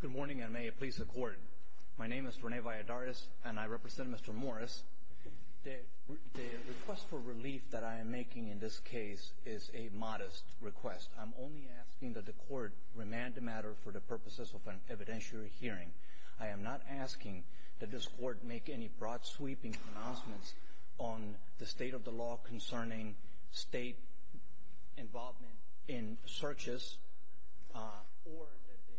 Good morning and may it please the court. My name is Rene Valladares and I represent Mr. Morris. The request for relief that I am making in this case is a modest request. I'm only asking that the court remand the matter for the purposes of an evidentiary hearing. I am not asking that this court make any broad sweeping announcements on the state of the law concerning state involvement in searches or that the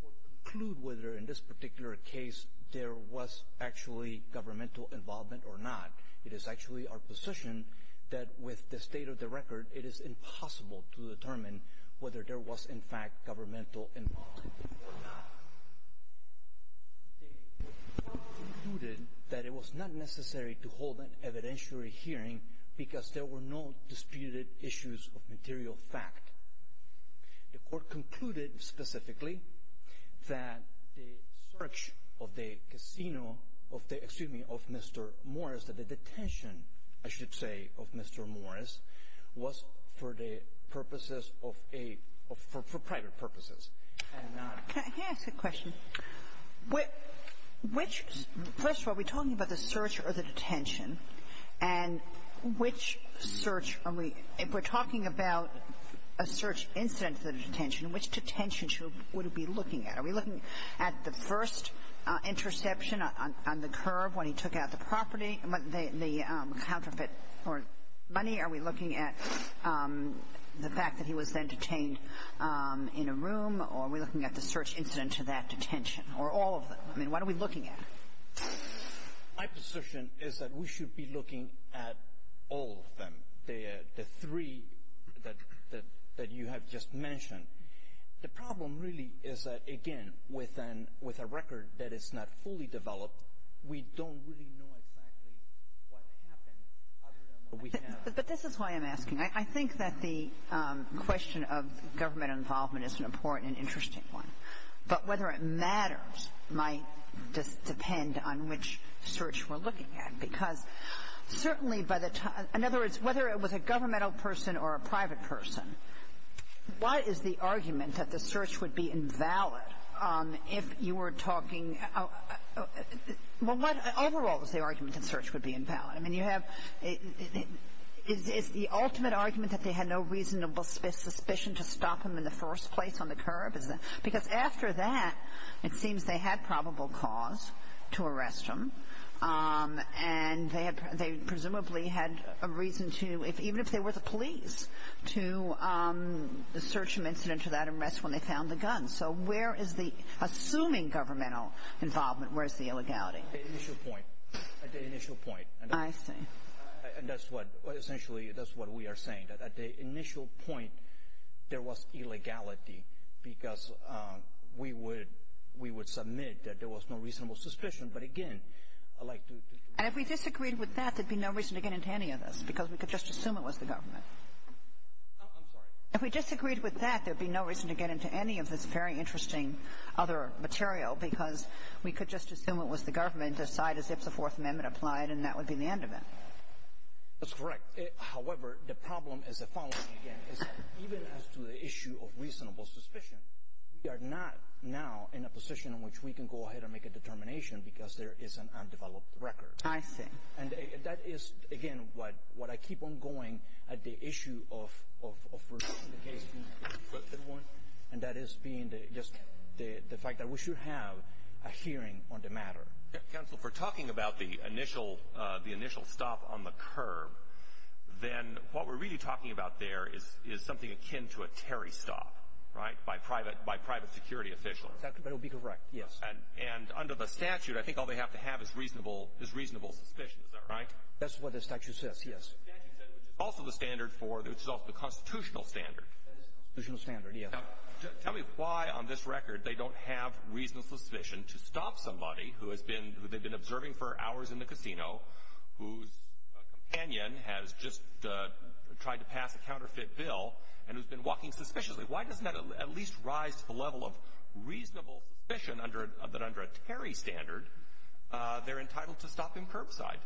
court conclude whether in this particular case there was actually governmental involvement or not. It is actually our position that with the state of the record it is impossible to determine whether there was in fact governmental involvement or not. The court concluded that it was not necessary to hold an evidentiary hearing because there were no disputed issues of material fact. The court concluded specifically that the search of the casino of the — excuse me — of Mr. Morris, that the detention, I should say, of Mr. Morris, was for the purposes of a — for private purposes, and not — Can I ask a question? Which — first of all, are we talking about the search or the detention, and which search are we — if we're talking about a search incident to the detention, which detention should — would it be looking at? Are we looking at the first interception on the curb when he took out the property, the counterfeit or money? Are we looking at the fact that he was then detained in a room, or are we looking at the search incident to that detention, or all of them? I mean, what are we looking at? My position is that we should be looking at all of them, the three that you have just mentioned. The problem really is that, again, with a record that is not fully developed, we don't really know exactly what happened other than what we have. But this is why I'm asking. I think that the question of government involvement is an important and interesting one. But whether it matters might depend on which search we're looking at, because certainly by the time — in other words, whether it was a governmental person or a private person, what is the argument that the search would be invalid if you were talking — well, what overall is the argument that search would be invalid? I mean, you have — is the ultimate argument that they had no reasonable suspicion to stop him in the first place on the curb? Because after that, it seems they had probable cause to arrest him, and they presumably had a reason to, even if they were the police, to search him incident to that arrest when they found the gun. So where is the — assuming governmental involvement, where is the illegality? At the initial point. At the initial point. I see. And that's what — essentially, that's what we are saying, that at the initial point, there was illegality, because we would — we would submit that there was no reasonable suspicion. But again, I'd like to — And if we disagreed with that, there'd be no reason to get into any of this, because we could just assume it was the government. I'm sorry? If we disagreed with that, there'd be no reason to get into any of this very interesting other material, because we could just assume it was the government, decide as if the Fourth Amendment. That's correct. However, the problem is the following, again, is that even as to the issue of reasonable suspicion, we are not now in a position in which we can go ahead and make a determination, because there is an undeveloped record. I see. And that is, again, what I keep on going at the issue of — and that is being just the fact that we should have a hearing on the matter. Counsel, if we're talking about the initial stop on the curb, then what we're really talking about there is something akin to a Terry stop, right, by private security officials. That would be correct, yes. And under the statute, I think all they have to have is reasonable suspicion. Is that right? That's what the statute says, yes. The statute said, which is also the standard for — which is also the constitutional standard. That is the constitutional standard, yes. Now, tell me why on this record they don't have reasonable suspicion to stop somebody who has been — who they've been observing for hours in the casino, whose companion has just tried to pass a counterfeit bill and who's been walking suspiciously. Why doesn't that at least rise to the level of reasonable suspicion that under a Terry standard, they're entitled to stop him curbside?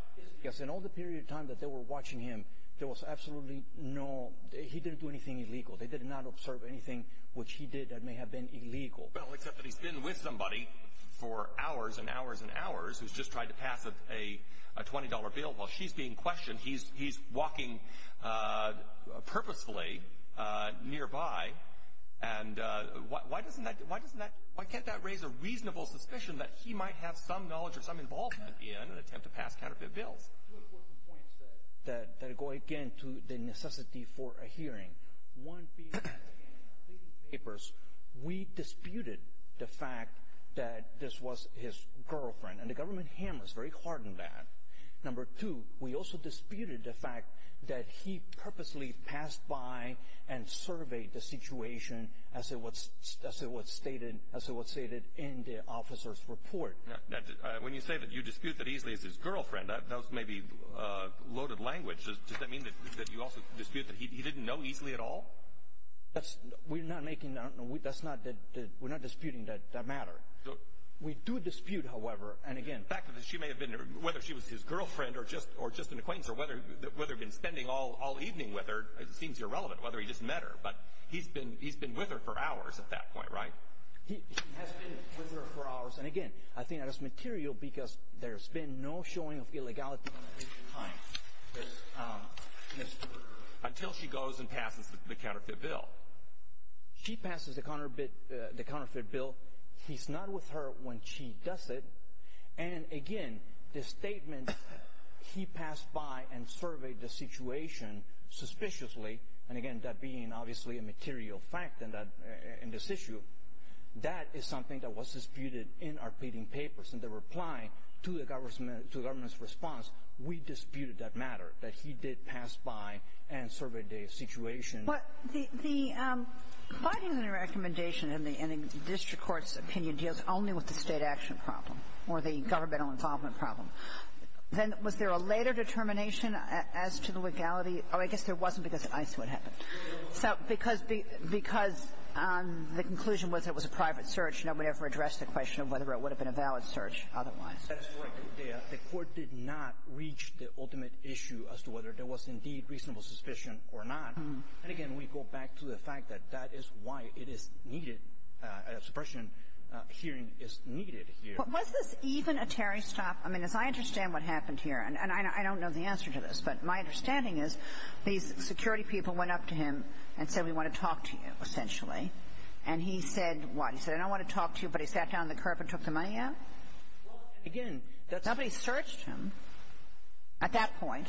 Yes, in all the period of time that they were watching him, there was absolutely no — he didn't do anything illegal. They did not observe anything which he did that may have been illegal. Well, except that he's been with somebody for hours and hours and hours, who's just tried to pass a $20 bill while she's being questioned. He's walking purposefully nearby, and why doesn't that — why doesn't that — why can't that raise a reasonable suspicion that he might have some knowledge or some involvement in an attempt to pass counterfeit bills? Two important points that go, again, to the necessity for a hearing. One being, again, in the completing papers, we disputed the fact that this was his girlfriend, and the government hammered us very hard on that. Number two, we also disputed the fact that he purposely passed by and surveyed the situation as it was — as it was stated — as it was stated in the officer's report. Now, when you say that you dispute that Easley is his girlfriend, that was maybe loaded language. Does that mean that you also dispute that he didn't know Easley at all? That's — we're not making — that's not — we're not disputing that matter. We do dispute, however, and again — The fact that she may have been — whether she was his girlfriend or just an acquaintance or whether he'd been spending all evening with her seems irrelevant, whether he just met her, but he's been with her for hours at that point, right? He has been with her for hours, and again, I think that is material because there's been no showing of illegality at that point in time. Until she goes and passes the counterfeit bill. She passes the counterfeit bill. He's not with her when she does it. And again, the statement, he passed by and surveyed the situation suspiciously, and again, that being obviously a material fact in that — in this issue, that is something that was disputed in our pleading papers. In the reply to the government's response, we disputed that matter, that he did pass by and surveyed the situation. But the finding in the recommendation and the district court's opinion deals only with the state action problem or the governmental involvement problem. Then was there a later determination as to the legality? Oh, I guess there wasn't because of ICE what happened. So because the conclusion was it was a private search, nobody ever addressed the question of whether it would have been a valid search otherwise. That is correct. The Court did not reach the ultimate issue as to whether there was indeed reasonable suspicion or not. And again, we go back to the fact that that is why it is needed, a suppression hearing is needed here. Was this even a Terry stop? I mean, as I understand what happened here, and I don't know the answer to this, but my understanding is these security people went up to him and said, we want to talk to you, essentially. And he said what? He said, I don't want to talk to you. But he sat down on the curb and took the money out? Well, again, that's... Nobody searched him at that point.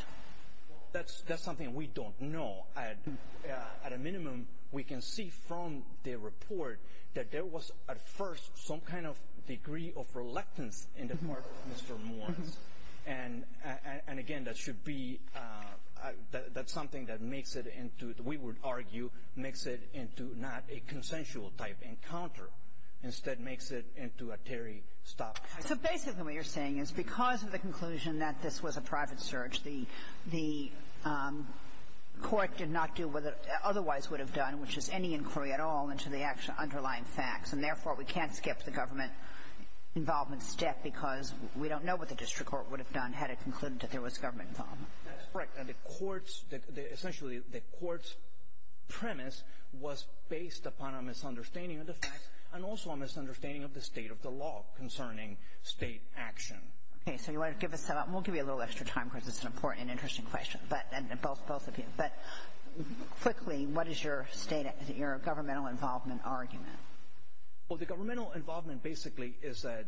Well, that's something we don't know. At a minimum, we can see from the report that there was at first some kind of degree of reluctance in the part of Mr. Morris. And, again, that should be something that makes it into, we would argue, makes it into not a consensual type encounter. Instead, makes it into a Terry stop. So basically what you're saying is because of the conclusion that this was a private search, the Court did not do what it otherwise would have done, which is any inquiry at all into the underlying facts. And therefore, we can't skip the government involvement step because we don't know what the district court would have done had it concluded that there was government involvement. That's correct. And the Court's... Essentially, the Court's premise was based upon a misunderstanding of the facts and also a misunderstanding of the state of the law concerning state action. Okay. So you want to give us... We'll give you a little extra time because it's an important and interesting question. But... And both of you. But quickly, what is your state... Your governmental involvement argument? Well, the governmental involvement basically is that...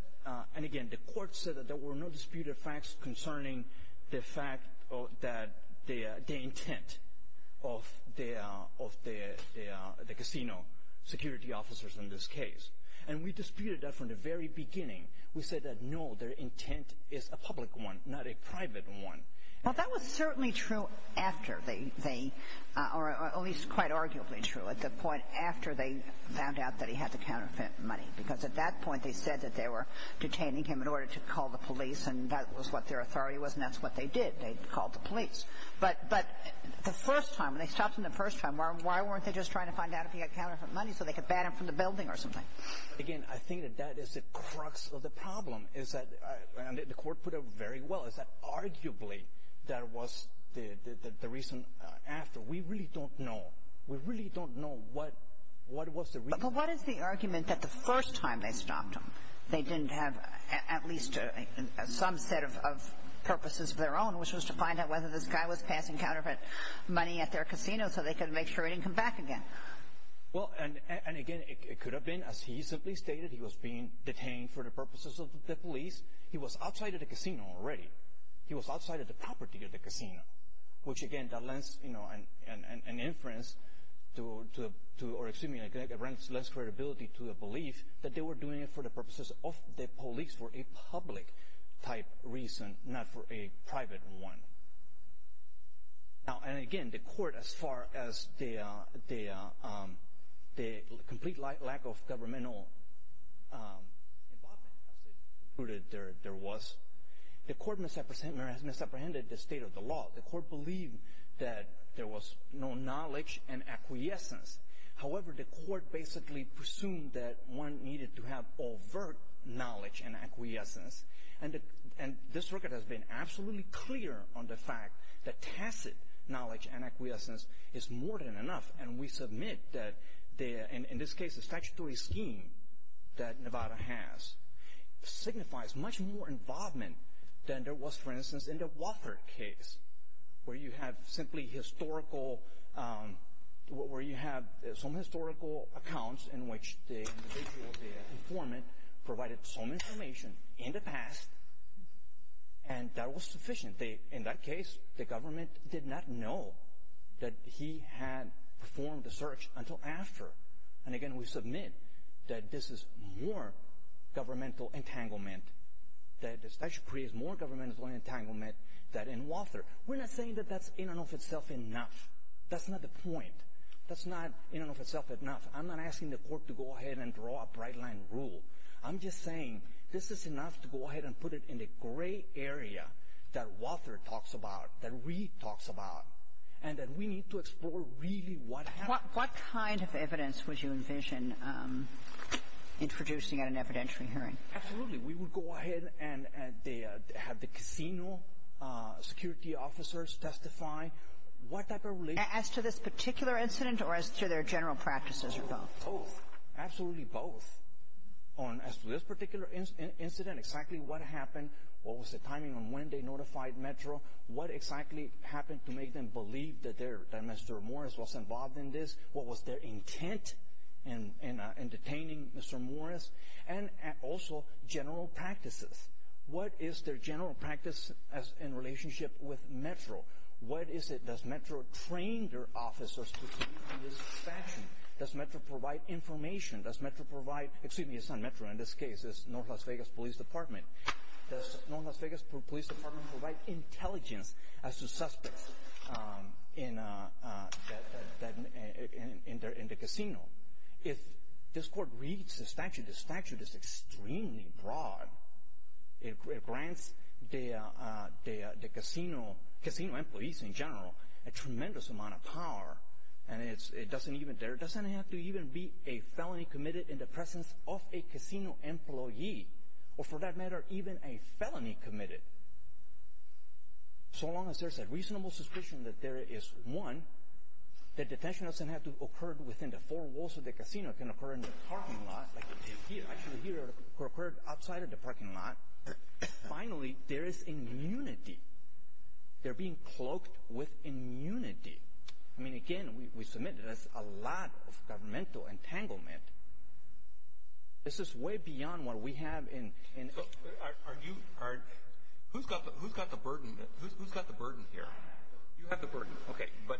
We disputed facts concerning the fact that the intent of the casino security officers in this case. And we disputed that from the very beginning. We said that, no, their intent is a public one, not a private one. Well, that was certainly true after they... Or at least quite arguably true at the point after they found out that he had the counterfeit money. Because at that point, they said that they were detaining him in order to call the police and that was what their authority was and that's what they did. They called the police. But the first time, when they stopped him the first time, why weren't they just trying to find out if he had counterfeit money so they could ban him from the building or something? Again, I think that that is the crux of the problem, is that... And the Court put it very well, is that arguably that was the reason after. We really don't know. We really don't know what was the reason. But what is the argument that the first time they stopped him, they didn't have at least some set of purposes of their own, which was to find out whether this guy was passing counterfeit money at their casino so they could make sure he didn't come back again? Well, and again, it could have been, as he simply stated, he was being detained for the purposes of the police. He was outside of the casino already. He was outside of the property of the casino. Which again, that lends an inference to, or excuse me, it renders less credibility to the belief that they were doing it for the purposes of the police, for a public-type reason, not for a private one. Now, and again, the Court, as far as the complete lack of governmental involvement, as they apprehended the state of the law, the Court believed that there was no knowledge and acquiescence. However, the Court basically presumed that one needed to have overt knowledge and acquiescence. And this record has been absolutely clear on the fact that tacit knowledge and acquiescence is more than enough. And we submit that, in this case, the statutory scheme that Nevada has signifies much more involvement than there was, for instance, in the Walker case, where you have simply historical, where you have some historical accounts in which the individual, the informant, provided some information in the past, and that was sufficient. In that case, the government did not know that he had performed the search until after. And again, we submit that this is more governmental entanglement, that the statute creates more governmental entanglement than in Walter. We're not saying that that's in and of itself enough. That's not the point. That's not in and of itself enough. I'm not asking the Court to go ahead and draw a bright-line rule. I'm just saying this is enough to go ahead and put it in the gray area that Walter talks about, that Reid talks about, and that we need to explore really what happened. What evidence would you envision introducing at an evidentiary hearing? Absolutely. We would go ahead and have the casino security officers testify. As to this particular incident, or as to their general practices, or both? Both. Absolutely both. As to this particular incident, exactly what happened, what was the timing on when they notified Metro, what exactly happened to make them believe that Mr. Morris was involved in this? What was their intent in detaining Mr. Morris? And, also, general practices. What is their general practice in relationship with Metro? What is it? Does Metro train their officers in this fashion? Does Metro provide information? Does Metro provide—excuse me, it's not Metro in this case, it's North Las Vegas Police Department. Does North Las Vegas Police Department provide intelligence as to suspects in the casino? If this court reads the statute, the statute is extremely broad. It grants the casino employees, in general, a tremendous amount of power, and it doesn't even—there doesn't have to even be a felony committed in the presence of a casino employee. Or, for that matter, even a felony committed. So long as there's a reasonable suspicion that there is one, that detention doesn't have to occur within the four walls of the casino, it can occur in the parking lot, like it did here. Actually, here, it occurred outside of the parking lot. Finally, there is immunity. They're being cloaked with immunity. I mean, again, we submit that that's a lot of governmental entanglement. This is way beyond what we have in— So, are you—who's got the burden here? You have the burden. Okay. But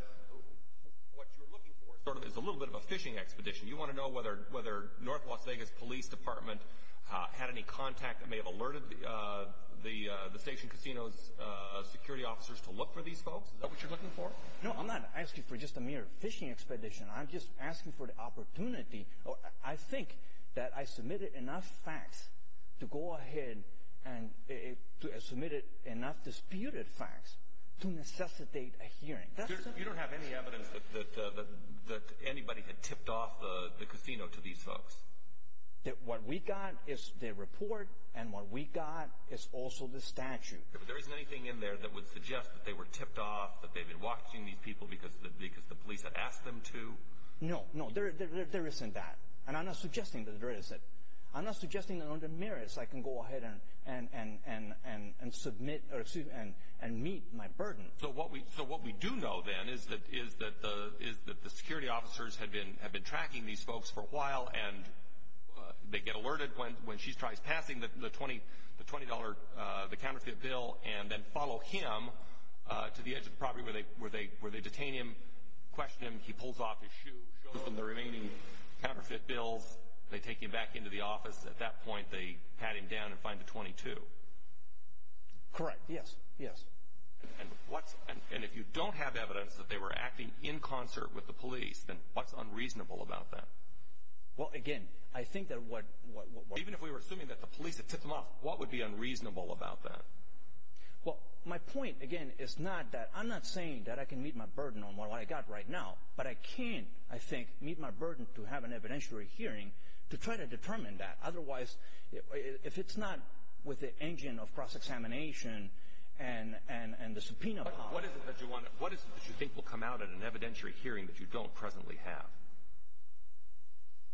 what you're looking for is a little bit of a fishing expedition. You want to know whether North Las Vegas Police Department had any contact that may have alerted the station casino's security officers to look for these folks? Is that what you're looking for? No, I'm not asking for just a mere fishing expedition. I'm just asking for the opportunity. I think that I submitted enough facts to go ahead and—submitted enough disputed facts to necessitate a hearing. You don't have any evidence that anybody had tipped off the casino to these folks? What we got is the report, and what we got is also the statute. Okay, but there isn't anything in there that would suggest that they were tipped off, that because the police had asked them to? No, no, there isn't that. And I'm not suggesting that there isn't. I'm not suggesting that under merits I can go ahead and meet my burden. So what we do know, then, is that the security officers have been tracking these folks for a while, and they get alerted when she tries passing the $20, the counterfeit bill, and then follow him to the edge of the property where they detain him, question him. He pulls off his shoe, shows them the remaining counterfeit bills. They take him back into the office. At that point, they pat him down and find the $22. Correct, yes, yes. And if you don't have evidence that they were acting in concert with the police, then what's unreasonable about that? Well, again, I think that what— Well, my point, again, is not that—I'm not saying that I can meet my burden on what I've got right now, but I can, I think, meet my burden to have an evidentiary hearing to try to determine that. Otherwise, if it's not with the engine of cross-examination and the subpoena power— But what is it that you think will come out in an evidentiary hearing that you don't presently have?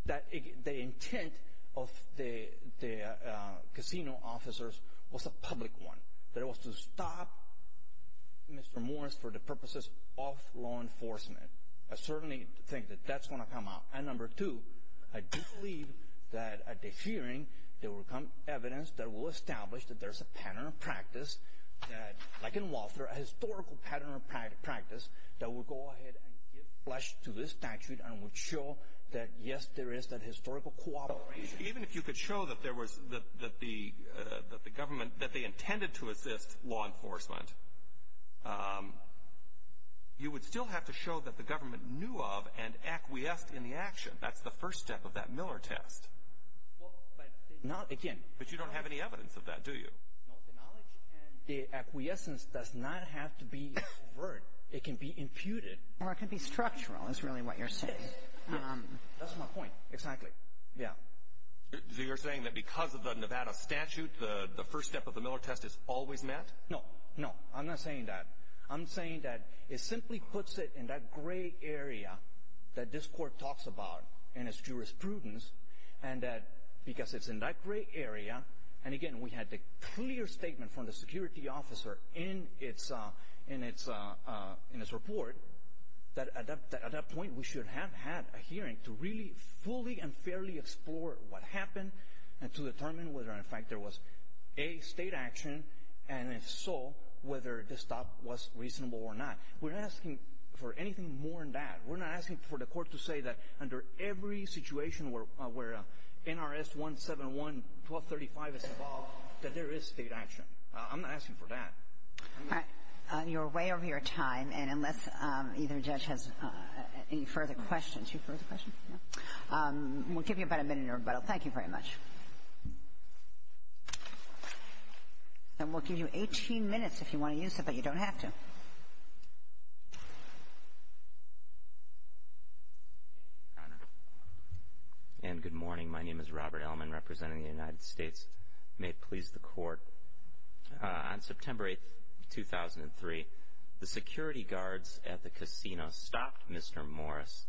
That the intent of the casino officers was a public one, that it was to stop Mr. Morris for the purposes of law enforcement. I certainly think that that's going to come out. And number two, I do believe that at the hearing, there will come evidence that will establish that there's a pattern of practice, like in Walter, a historical pattern of practice, that will go ahead and give flesh to this statute and will show that, yes, there is that historical cooperation. Even if you could show that there was—that the government, that they intended to assist law enforcement, you would still have to show that the government knew of and acquiesced in the action. That's the first step of that Miller test. Well, but— Not again. But you don't have any evidence of that, do you? No, the knowledge and the acquiescence does not have to be overt. It can be imputed. Or it can be structural, is really what you're saying. That's my point. Exactly. Yeah. So you're saying that because of the Nevada statute, the first step of the Miller test is always met? No, no. I'm not saying that. I'm saying that it simply puts it in that gray area that this Court talks about, and its jurisprudence, and that because it's in that gray area, and, again, we had the clear statement from the security officer in its report, that at that point we should have had a hearing to really fully and fairly explore what happened and to determine whether, in fact, there was a state action, and if so, whether the stop was reasonable or not. We're not asking for anything more than that. We're not asking for the Court to say that under every situation where NRS 171, 1235 is involved, that there is state action. I'm not asking for that. All right. You're way over your time, and unless either judge has any further questions. Two further questions? We'll give you about a minute in rebuttal. Thank you very much. And we'll give you 18 minutes if you want to use it, but you don't have to. Your Honor, and good morning. My name is Robert Ellman, representing the United States. May it please the Court. On September 8, 2003, the security guards at the casino stopped Mr. Morris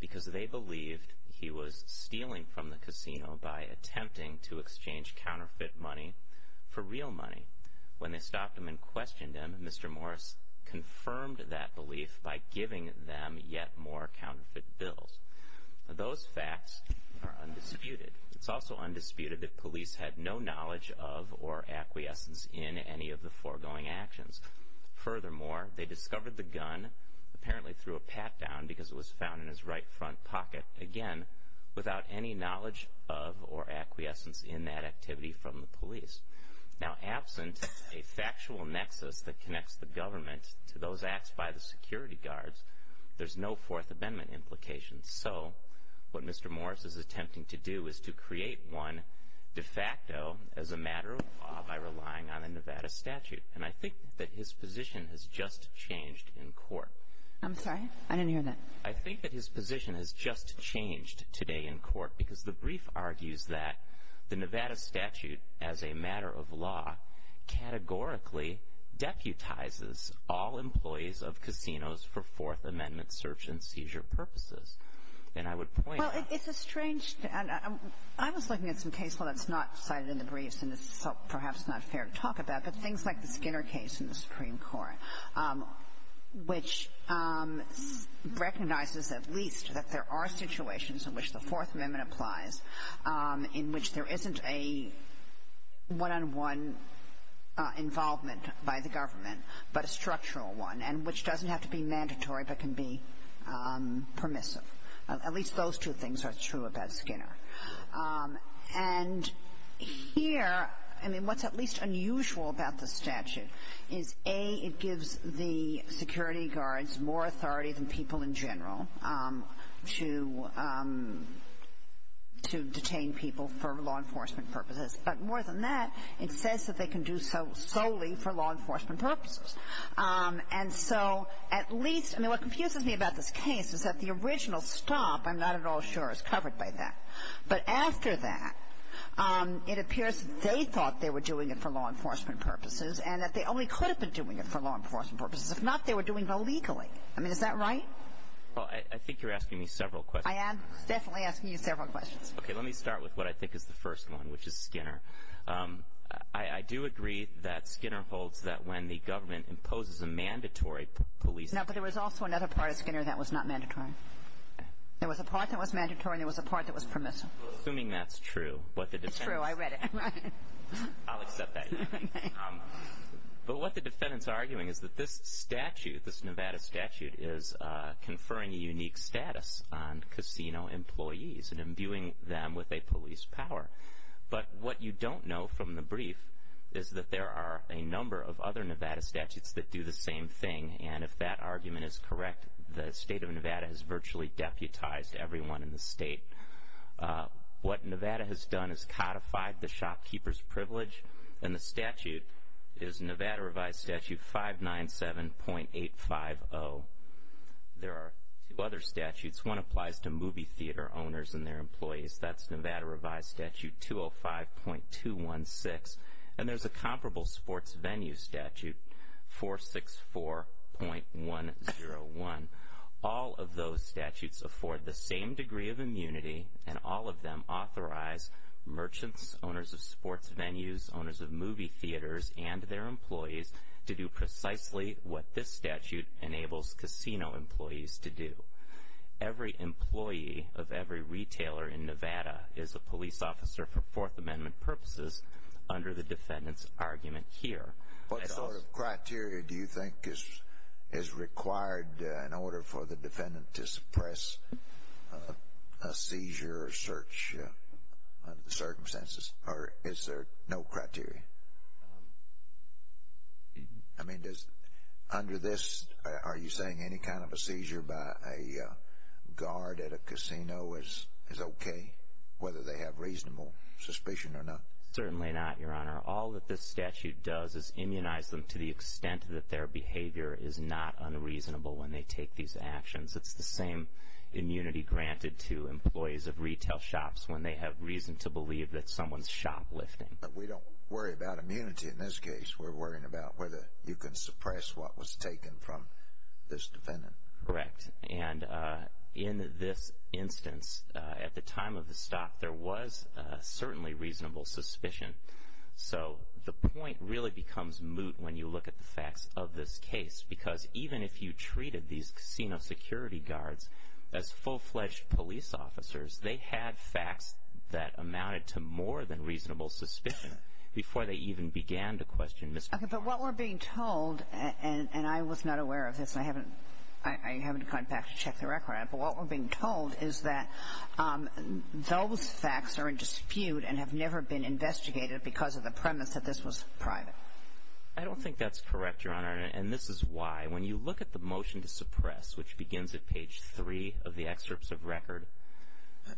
because they believed he was stealing from the casino by attempting to exchange counterfeit money for real money. When they stopped him and questioned him, Mr. Morris confirmed that belief by giving them yet more counterfeit bills. Those facts are undisputed. It's also undisputed that police had no knowledge of or acquiescence in any of the foregoing actions. Furthermore, they discovered the gun, apparently through a pat-down because it was found in his right front pocket, again, without any knowledge of or acquiescence in that activity from the police. Now, absent a factual nexus that connects the government to those acts by the security guards, there's no Fourth Amendment implications. So what Mr. Morris is attempting to do is to create one de facto as a matter of law by relying on a Nevada statute. And I think that his position has just changed in court. I'm sorry? I didn't hear that. I think that his position has just changed today in court because the brief argues that the Nevada statute, as a matter of law, categorically deputizes all employees of casinos for Fourth Amendment search and seizure purposes. And I would point out — Well, it's a strange — I was looking at some case law that's not cited in the briefs, and this is perhaps not fair to talk about, but things like the Skinner case in the Supreme Court, which recognizes at least that there are situations in which the Fourth Amendment applies, in which there isn't a one-on-one involvement by the government, but a structural one, and which doesn't have to be mandatory but can be permissive. At least those two things are true about Skinner. And here, I mean, what's at least unusual about the statute is, A, it gives the security guards more authority than people in general to detain people for law enforcement purposes. But more than that, it says that they can do so solely for law enforcement purposes. And so at least — I mean, what confuses me about this case is that the original stop, I'm not at all sure, is covered by that. But after that, it appears they thought they were doing it for law enforcement purposes and that they only could have been doing it for law enforcement purposes. If not, they were doing it illegally. I mean, is that right? Well, I think you're asking me several questions. I am definitely asking you several questions. Okay. Let me start with what I think is the first one, which is Skinner. I do agree that Skinner holds that when the government imposes a mandatory police — No, but there was also another part of Skinner that was not mandatory. There was a part that was mandatory and there was a part that was permissible. Well, assuming that's true, what the defendants — It's true. I read it. I'll accept that. But what the defendants are arguing is that this statute, this Nevada statute, is conferring a unique status on casino employees and imbuing them with a police power. But what you don't know from the brief is that there are a number of other Nevada statutes that do the same thing. And if that argument is correct, the state of Nevada has virtually deputized everyone in the state. What Nevada has done is codified the shopkeeper's privilege, and the statute is Nevada Revised Statute 597.850. There are two other statutes. One applies to movie theater owners and their employees. That's Nevada Revised Statute 205.216. And there's a comparable sports venue statute, 464.101. All of those statutes afford the same degree of immunity, and all of them authorize merchants, owners of sports venues, owners of movie theaters, and their employees to do precisely what this statute enables casino employees to do. Every employee of every retailer in Nevada is a police officer for Fourth Amendment purposes under the defendant's argument here. What sort of criteria do you think is required in order for the defendant to suppress a seizure or search under the circumstances? Or is there no criteria? I mean, under this, are you saying any kind of a seizure by a guard at a casino is okay, whether they have reasonable suspicion or not? Certainly not, Your Honor. All that this statute does is immunize them to the extent that their behavior is not unreasonable when they take these actions. It's the same immunity granted to employees of retail shops when they have reason to believe that someone's shoplifting. But we don't worry about immunity in this case. We're worrying about whether you can suppress what was taken from this defendant. Correct. And in this instance, at the time of the stop, there was certainly reasonable suspicion. So the point really becomes moot when you look at the facts of this case, because even if you treated these casino security guards as full-fledged police officers, they had facts that amounted to more than reasonable suspicion before they even began to question misconduct. But what we're being told, and I was not aware of this, and I haven't gone back to check the record on it, but what we're being told is that those facts are in dispute and have never been investigated because of the premise that this was private. I don't think that's correct, Your Honor, and this is why. When you look at the motion to suppress, which begins at page 3 of the excerpts of record,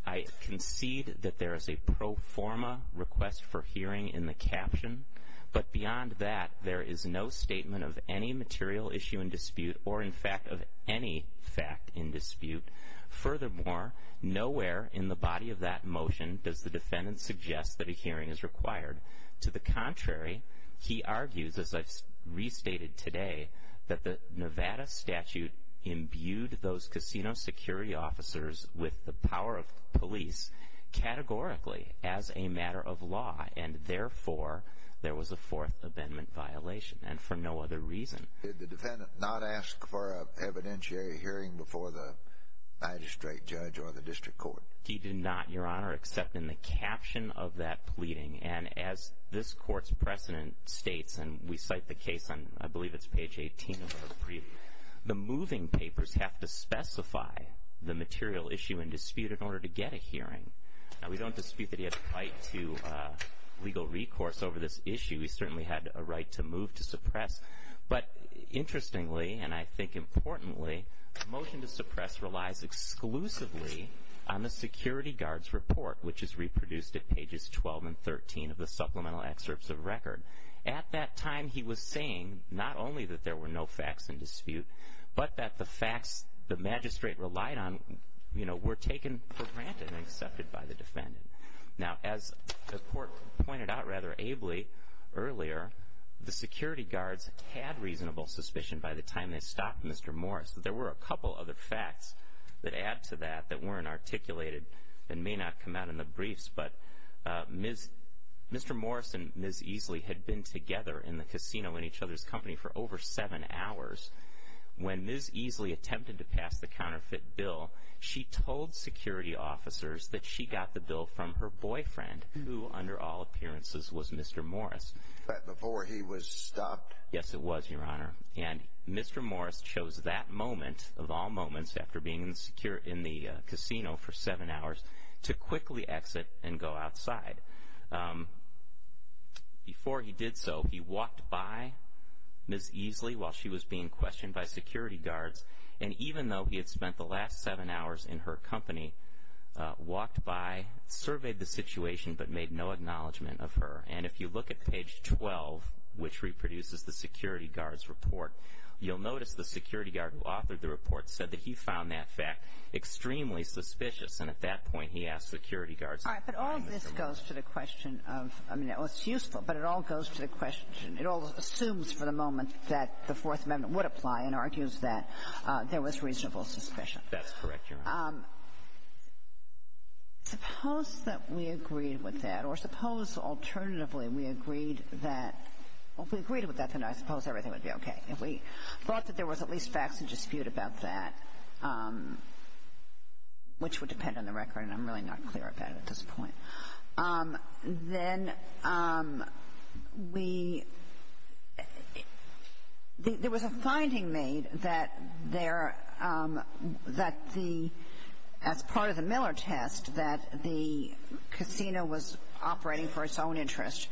I concede that there is a pro forma request for hearing in the caption, but beyond that, there is no statement of any material issue in dispute or, in fact, of any fact in dispute. Furthermore, nowhere in the body of that motion does the defendant suggest that a hearing is required. To the contrary, he argues, as I've restated today, that the Nevada statute imbued those casino security officers with the power of police categorically as a matter of law and, therefore, there was a Fourth Amendment violation and for no other reason. Did the defendant not ask for an evidentiary hearing before the magistrate judge or the district court? He did not, Your Honor, except in the caption of that pleading, and as this court's precedent states, and we cite the case on I believe it's page 18 of our brief, the moving papers have to specify the material issue in dispute in order to get a hearing. Now, we don't dispute that he had the right to legal recourse over this issue. He certainly had a right to move to suppress, but interestingly, and I think importantly, the motion to suppress relies exclusively on the security guard's report, which is reproduced at pages 12 and 13 of the supplemental excerpts of record. At that time, he was saying not only that there were no facts in dispute, but that the facts the magistrate relied on, you know, were taken for granted and accepted by the defendant. Now, as the court pointed out rather ably earlier, the security guards had reasonable suspicion by the time they stopped Mr. Morris that there were a couple other facts that add to that that weren't articulated and may not come out in the briefs. But Mr. Morris and Ms. Easley had been together in the casino in each other's company for over seven hours. When Ms. Easley attempted to pass the counterfeit bill, she told security officers that she got the bill from her boyfriend, who under all appearances was Mr. Morris. But before he was stopped? Yes, it was, Your Honor. And Mr. Morris chose that moment, of all moments after being in the casino for seven hours, to quickly exit and go outside. Before he did so, he walked by Ms. Easley while she was being questioned by security guards, and even though he had spent the last seven hours in her company, walked by, surveyed the situation, but made no acknowledgement of her. And if you look at page 12, which reproduces the security guard's report, you'll notice the security guard who authored the report said that he found that fact extremely suspicious. And at that point, he asked security guards to find Ms. Easley. All right, but all of this goes to the question of – I mean, it's useful, but it all goes to the question – it all assumes for the moment that the Fourth Amendment would apply and argues that there was reasonable suspicion. That's correct, Your Honor. Suppose that we agreed with that, or suppose alternatively we agreed that – well, if we agreed with that, then I suppose everything would be okay. If we thought that there was at least facts in dispute about that, which would depend on the record, and I'm really not clear about it at this point. Then we – there was a finding made that there – that the – as part of the Miller test, that the casino was operating for its own interest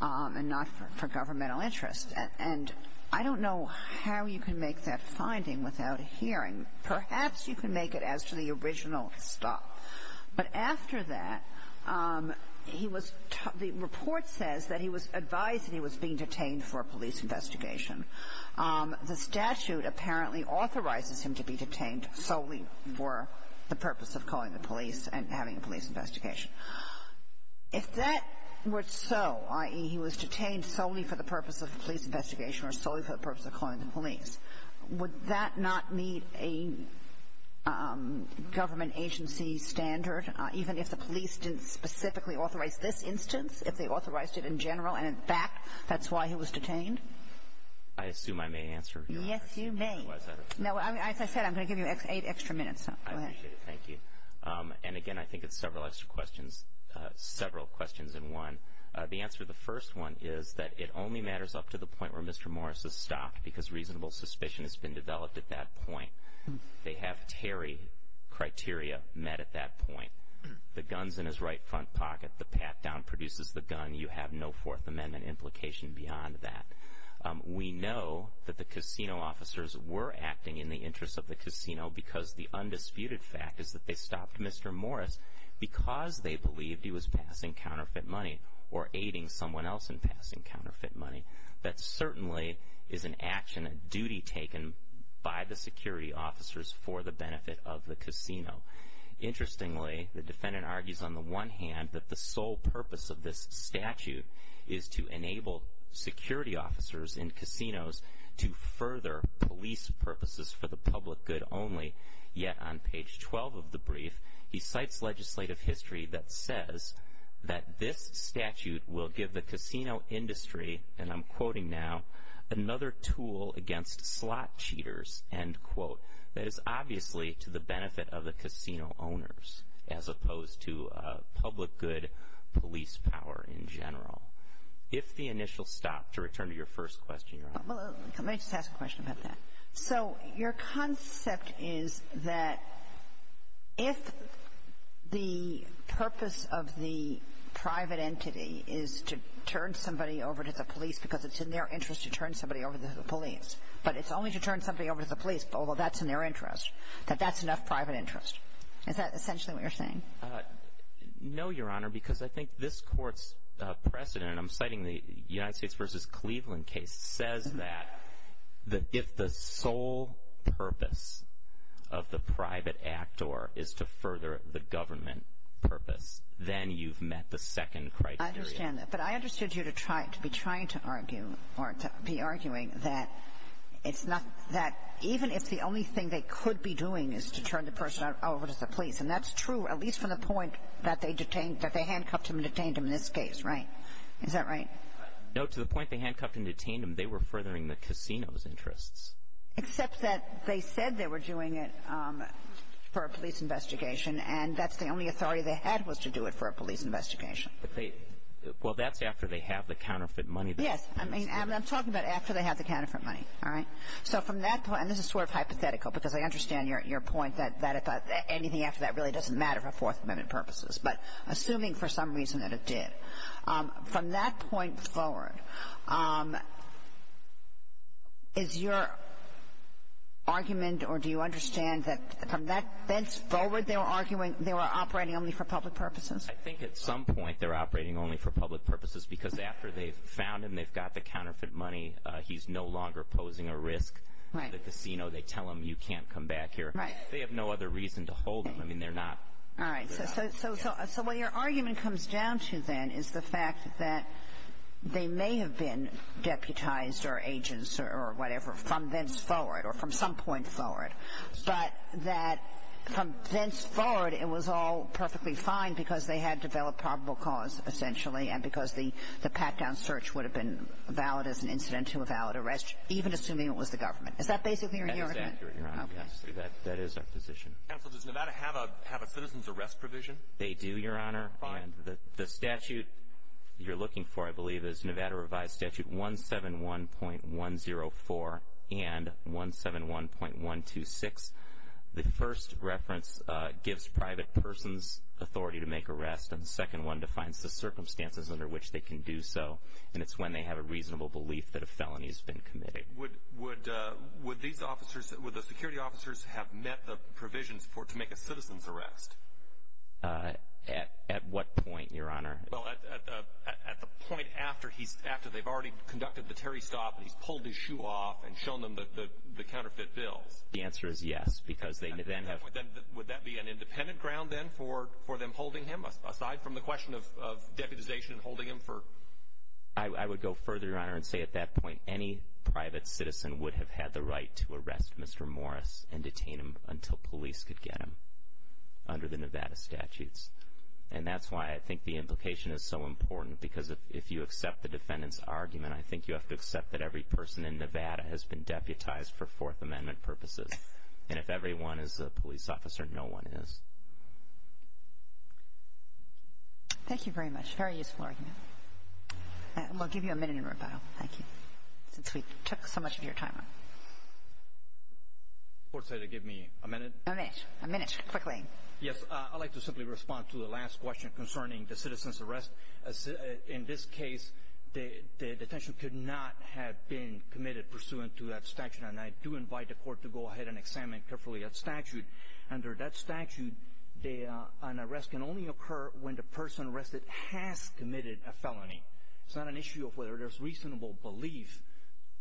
and not for governmental interest. And I don't know how you can make that finding without hearing. Perhaps you can make it as to the original stuff. But after that, he was – the report says that he was advised that he was being detained for a police investigation. The statute apparently authorizes him to be detained solely for the purpose of calling the police and having a police investigation. If that were so, i.e., he was detained solely for the purpose of a police investigation or solely for the purpose of calling the police, would that not meet a government agency standard, even if the police didn't specifically authorize this instance, if they authorized it in general, and in fact that's why he was detained? I assume I may answer your question. Yes, you may. No, as I said, I'm going to give you eight extra minutes. I appreciate it. Thank you. And again, I think it's several extra questions – several questions in one. The answer to the first one is that it only matters up to the point where Mr. Morris is stopped because reasonable suspicion has been developed at that point. They have Terry criteria met at that point. The gun's in his right front pocket. The pat-down produces the gun. You have no Fourth Amendment implication beyond that. We know that the casino officers were acting in the interest of the casino because the undisputed fact is that they stopped Mr. Morris because they believed he was passing counterfeit money or aiding someone else in passing counterfeit money. That certainly is an action, a duty taken by the security officers for the benefit of the casino. Interestingly, the defendant argues on the one hand that the sole purpose of this statute is to enable security officers in casinos to further police purposes for the public good only. Yet on page 12 of the brief, he cites legislative history that says that this statute will give the casino industry, and I'm quoting now, another tool against slot cheaters, end quote, that is obviously to the benefit of the casino owners as opposed to public good police power in general. If the initial stop, to return to your first question, Your Honor. Let me just ask a question about that. So your concept is that if the purpose of the private entity is to turn somebody over to the police because it's in their interest to turn somebody over to the police, but it's only to turn somebody over to the police, although that's in their interest, that that's enough private interest. Is that essentially what you're saying? No, Your Honor, because I think this Court's precedent, and I'm citing the United States v. Cleveland case, says that if the sole purpose of the private actor is to further the government purpose, then you've met the second criteria. I understand that. But I understood you to be trying to argue or to be arguing that it's not that even if the only thing they could be doing is to turn the person over to the police, and that's true at least from the point that they handcuffed him and detained him in this case, right? Is that right? No. To the point they handcuffed and detained him, they were furthering the casino's interests. Except that they said they were doing it for a police investigation, and that's the only authority they had was to do it for a police investigation. Well, that's after they have the counterfeit money. Yes. I mean, I'm talking about after they have the counterfeit money. All right? So from that point, and this is sort of hypothetical because I understand your point that anything after that really doesn't matter for Fourth Amendment purposes, but assuming for some reason that it did. From that point forward, is your argument or do you understand that from that fence forward they were operating only for public purposes? I think at some point they were operating only for public purposes because after they've found him, they've got the counterfeit money, he's no longer posing a risk to the casino. They tell him you can't come back here. They have no other reason to hold him. All right. So what your argument comes down to then is the fact that they may have been deputized or agents or whatever from thenceforward or from some point forward, but that from thenceforward it was all perfectly fine because they had developed probable cause, essentially, and because the pat-down search would have been valid as an incident to a valid arrest, even assuming it was the government. Is that basically your argument? That is accurate, Your Honor. Yes. That is our position. Counsel, does Nevada have a citizen's arrest provision? They do, Your Honor. The statute you're looking for, I believe, is Nevada Revised Statute 171.104 and 171.126. The first reference gives private persons authority to make arrests, and the second one defines the circumstances under which they can do so, and it's when they have a reasonable belief that a felony has been committed. Would the security officers have met the provisions to make a citizen's arrest? At what point, Your Honor? Well, at the point after they've already conducted the Terry stop and he's pulled his shoe off and shown them the counterfeit bills. The answer is yes, because they then have to. Would that be an independent ground then for them holding him, aside from the question of deputization and holding him for? I would go further, Your Honor, and say at that point, any private citizen would have had the right to arrest Mr. Morris and detain him until police could get him under the Nevada statutes, and that's why I think the implication is so important, because if you accept the defendant's argument, I think you have to accept that every person in Nevada has been deputized for Fourth Amendment purposes, and if everyone is a police officer, no one is. Thank you very much. Very useful argument. And we'll give you a minute in rebuttal. Thank you, since we took so much of your time. The court said to give me a minute. A minute. A minute. Quickly. Yes, I'd like to simply respond to the last question concerning the citizen's arrest. In this case, the detention could not have been committed pursuant to that statute, and I do invite the court to go ahead and examine carefully that statute. Under that statute, an arrest can only occur when the person arrested has committed a felony. It's not an issue of whether there's reasonable belief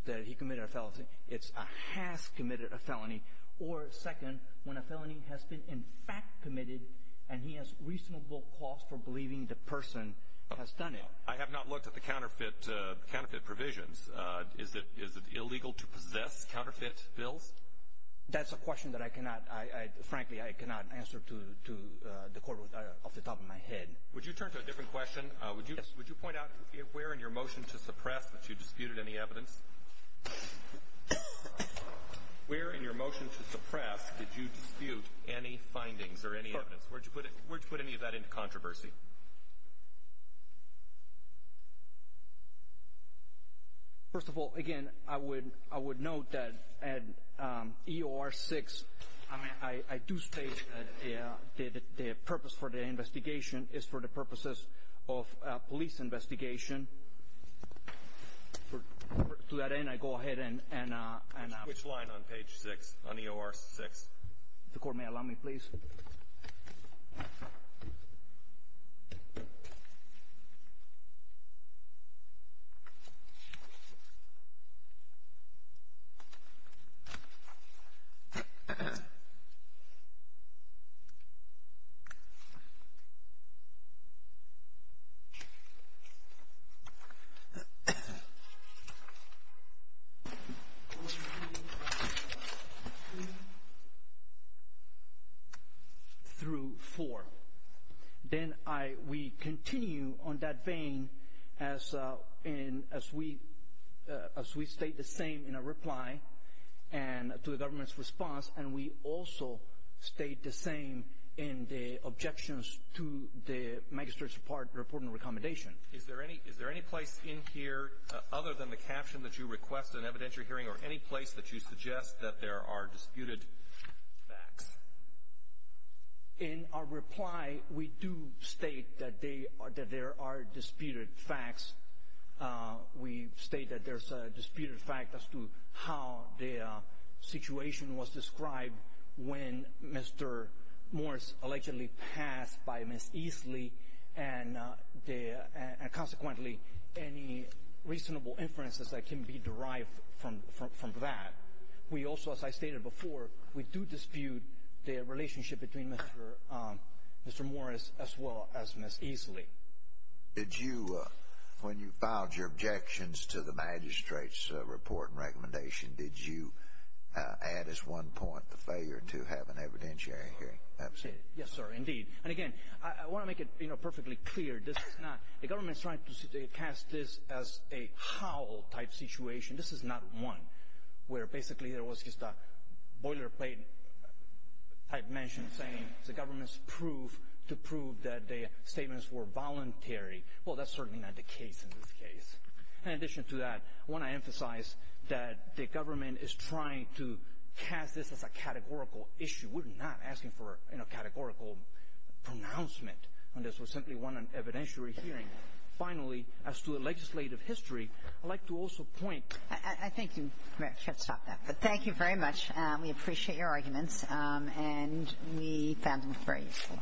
that he committed a felony. It's a has committed a felony, or second, when a felony has been in fact committed and he has reasonable cause for believing the person has done it. I have not looked at the counterfeit provisions. Is it illegal to possess counterfeit bills? That's a question that I cannot, frankly, I cannot answer to the court off the top of my head. Would you turn to a different question? Yes. Would you point out where in your motion to suppress that you disputed any evidence? Where in your motion to suppress did you dispute any findings or any evidence? Where did you put any of that into controversy? First of all, again, I would note that in EOR 6, I do state that the purpose for the investigation is for the purposes of a police investigation. To that end, I go ahead and I'm. Which line on page 6, on EOR 6? The court may allow me, please. Thank you. Then we continue on that vein as we state the same in our reply to the government's response, and we also state the same in the objections to the magistrate's report and recommendation. Is there any place in here other than the caption that you request an evidentiary hearing or any place that you suggest that there are disputed facts? In our reply, we do state that there are disputed facts. We state that there's a disputed fact as to how the situation was described when Mr. Morris allegedly passed by Ms. Easley, and consequently, any reasonable inferences that can be derived from that. We also, as I stated before, we do dispute the relationship between Mr. Morris as well as Ms. Easley. Did you, when you filed your objections to the magistrate's report and recommendation, did you add as one point the failure to have an evidentiary hearing? Yes, sir, indeed. And again, I want to make it perfectly clear, this is not, the government is trying to cast this as a how type situation. This is not one where basically there was just a boilerplate type mention saying the government's proof to prove that the statements were voluntary. Well, that's certainly not the case in this case. In addition to that, I want to emphasize that the government is trying to cast this as a categorical issue. We're not asking for a categorical pronouncement. This was simply one evidentiary hearing. Finally, as to the legislative history, I'd like to also point. I think you should stop that. But thank you very much. We appreciate your arguments, and we found them very useful.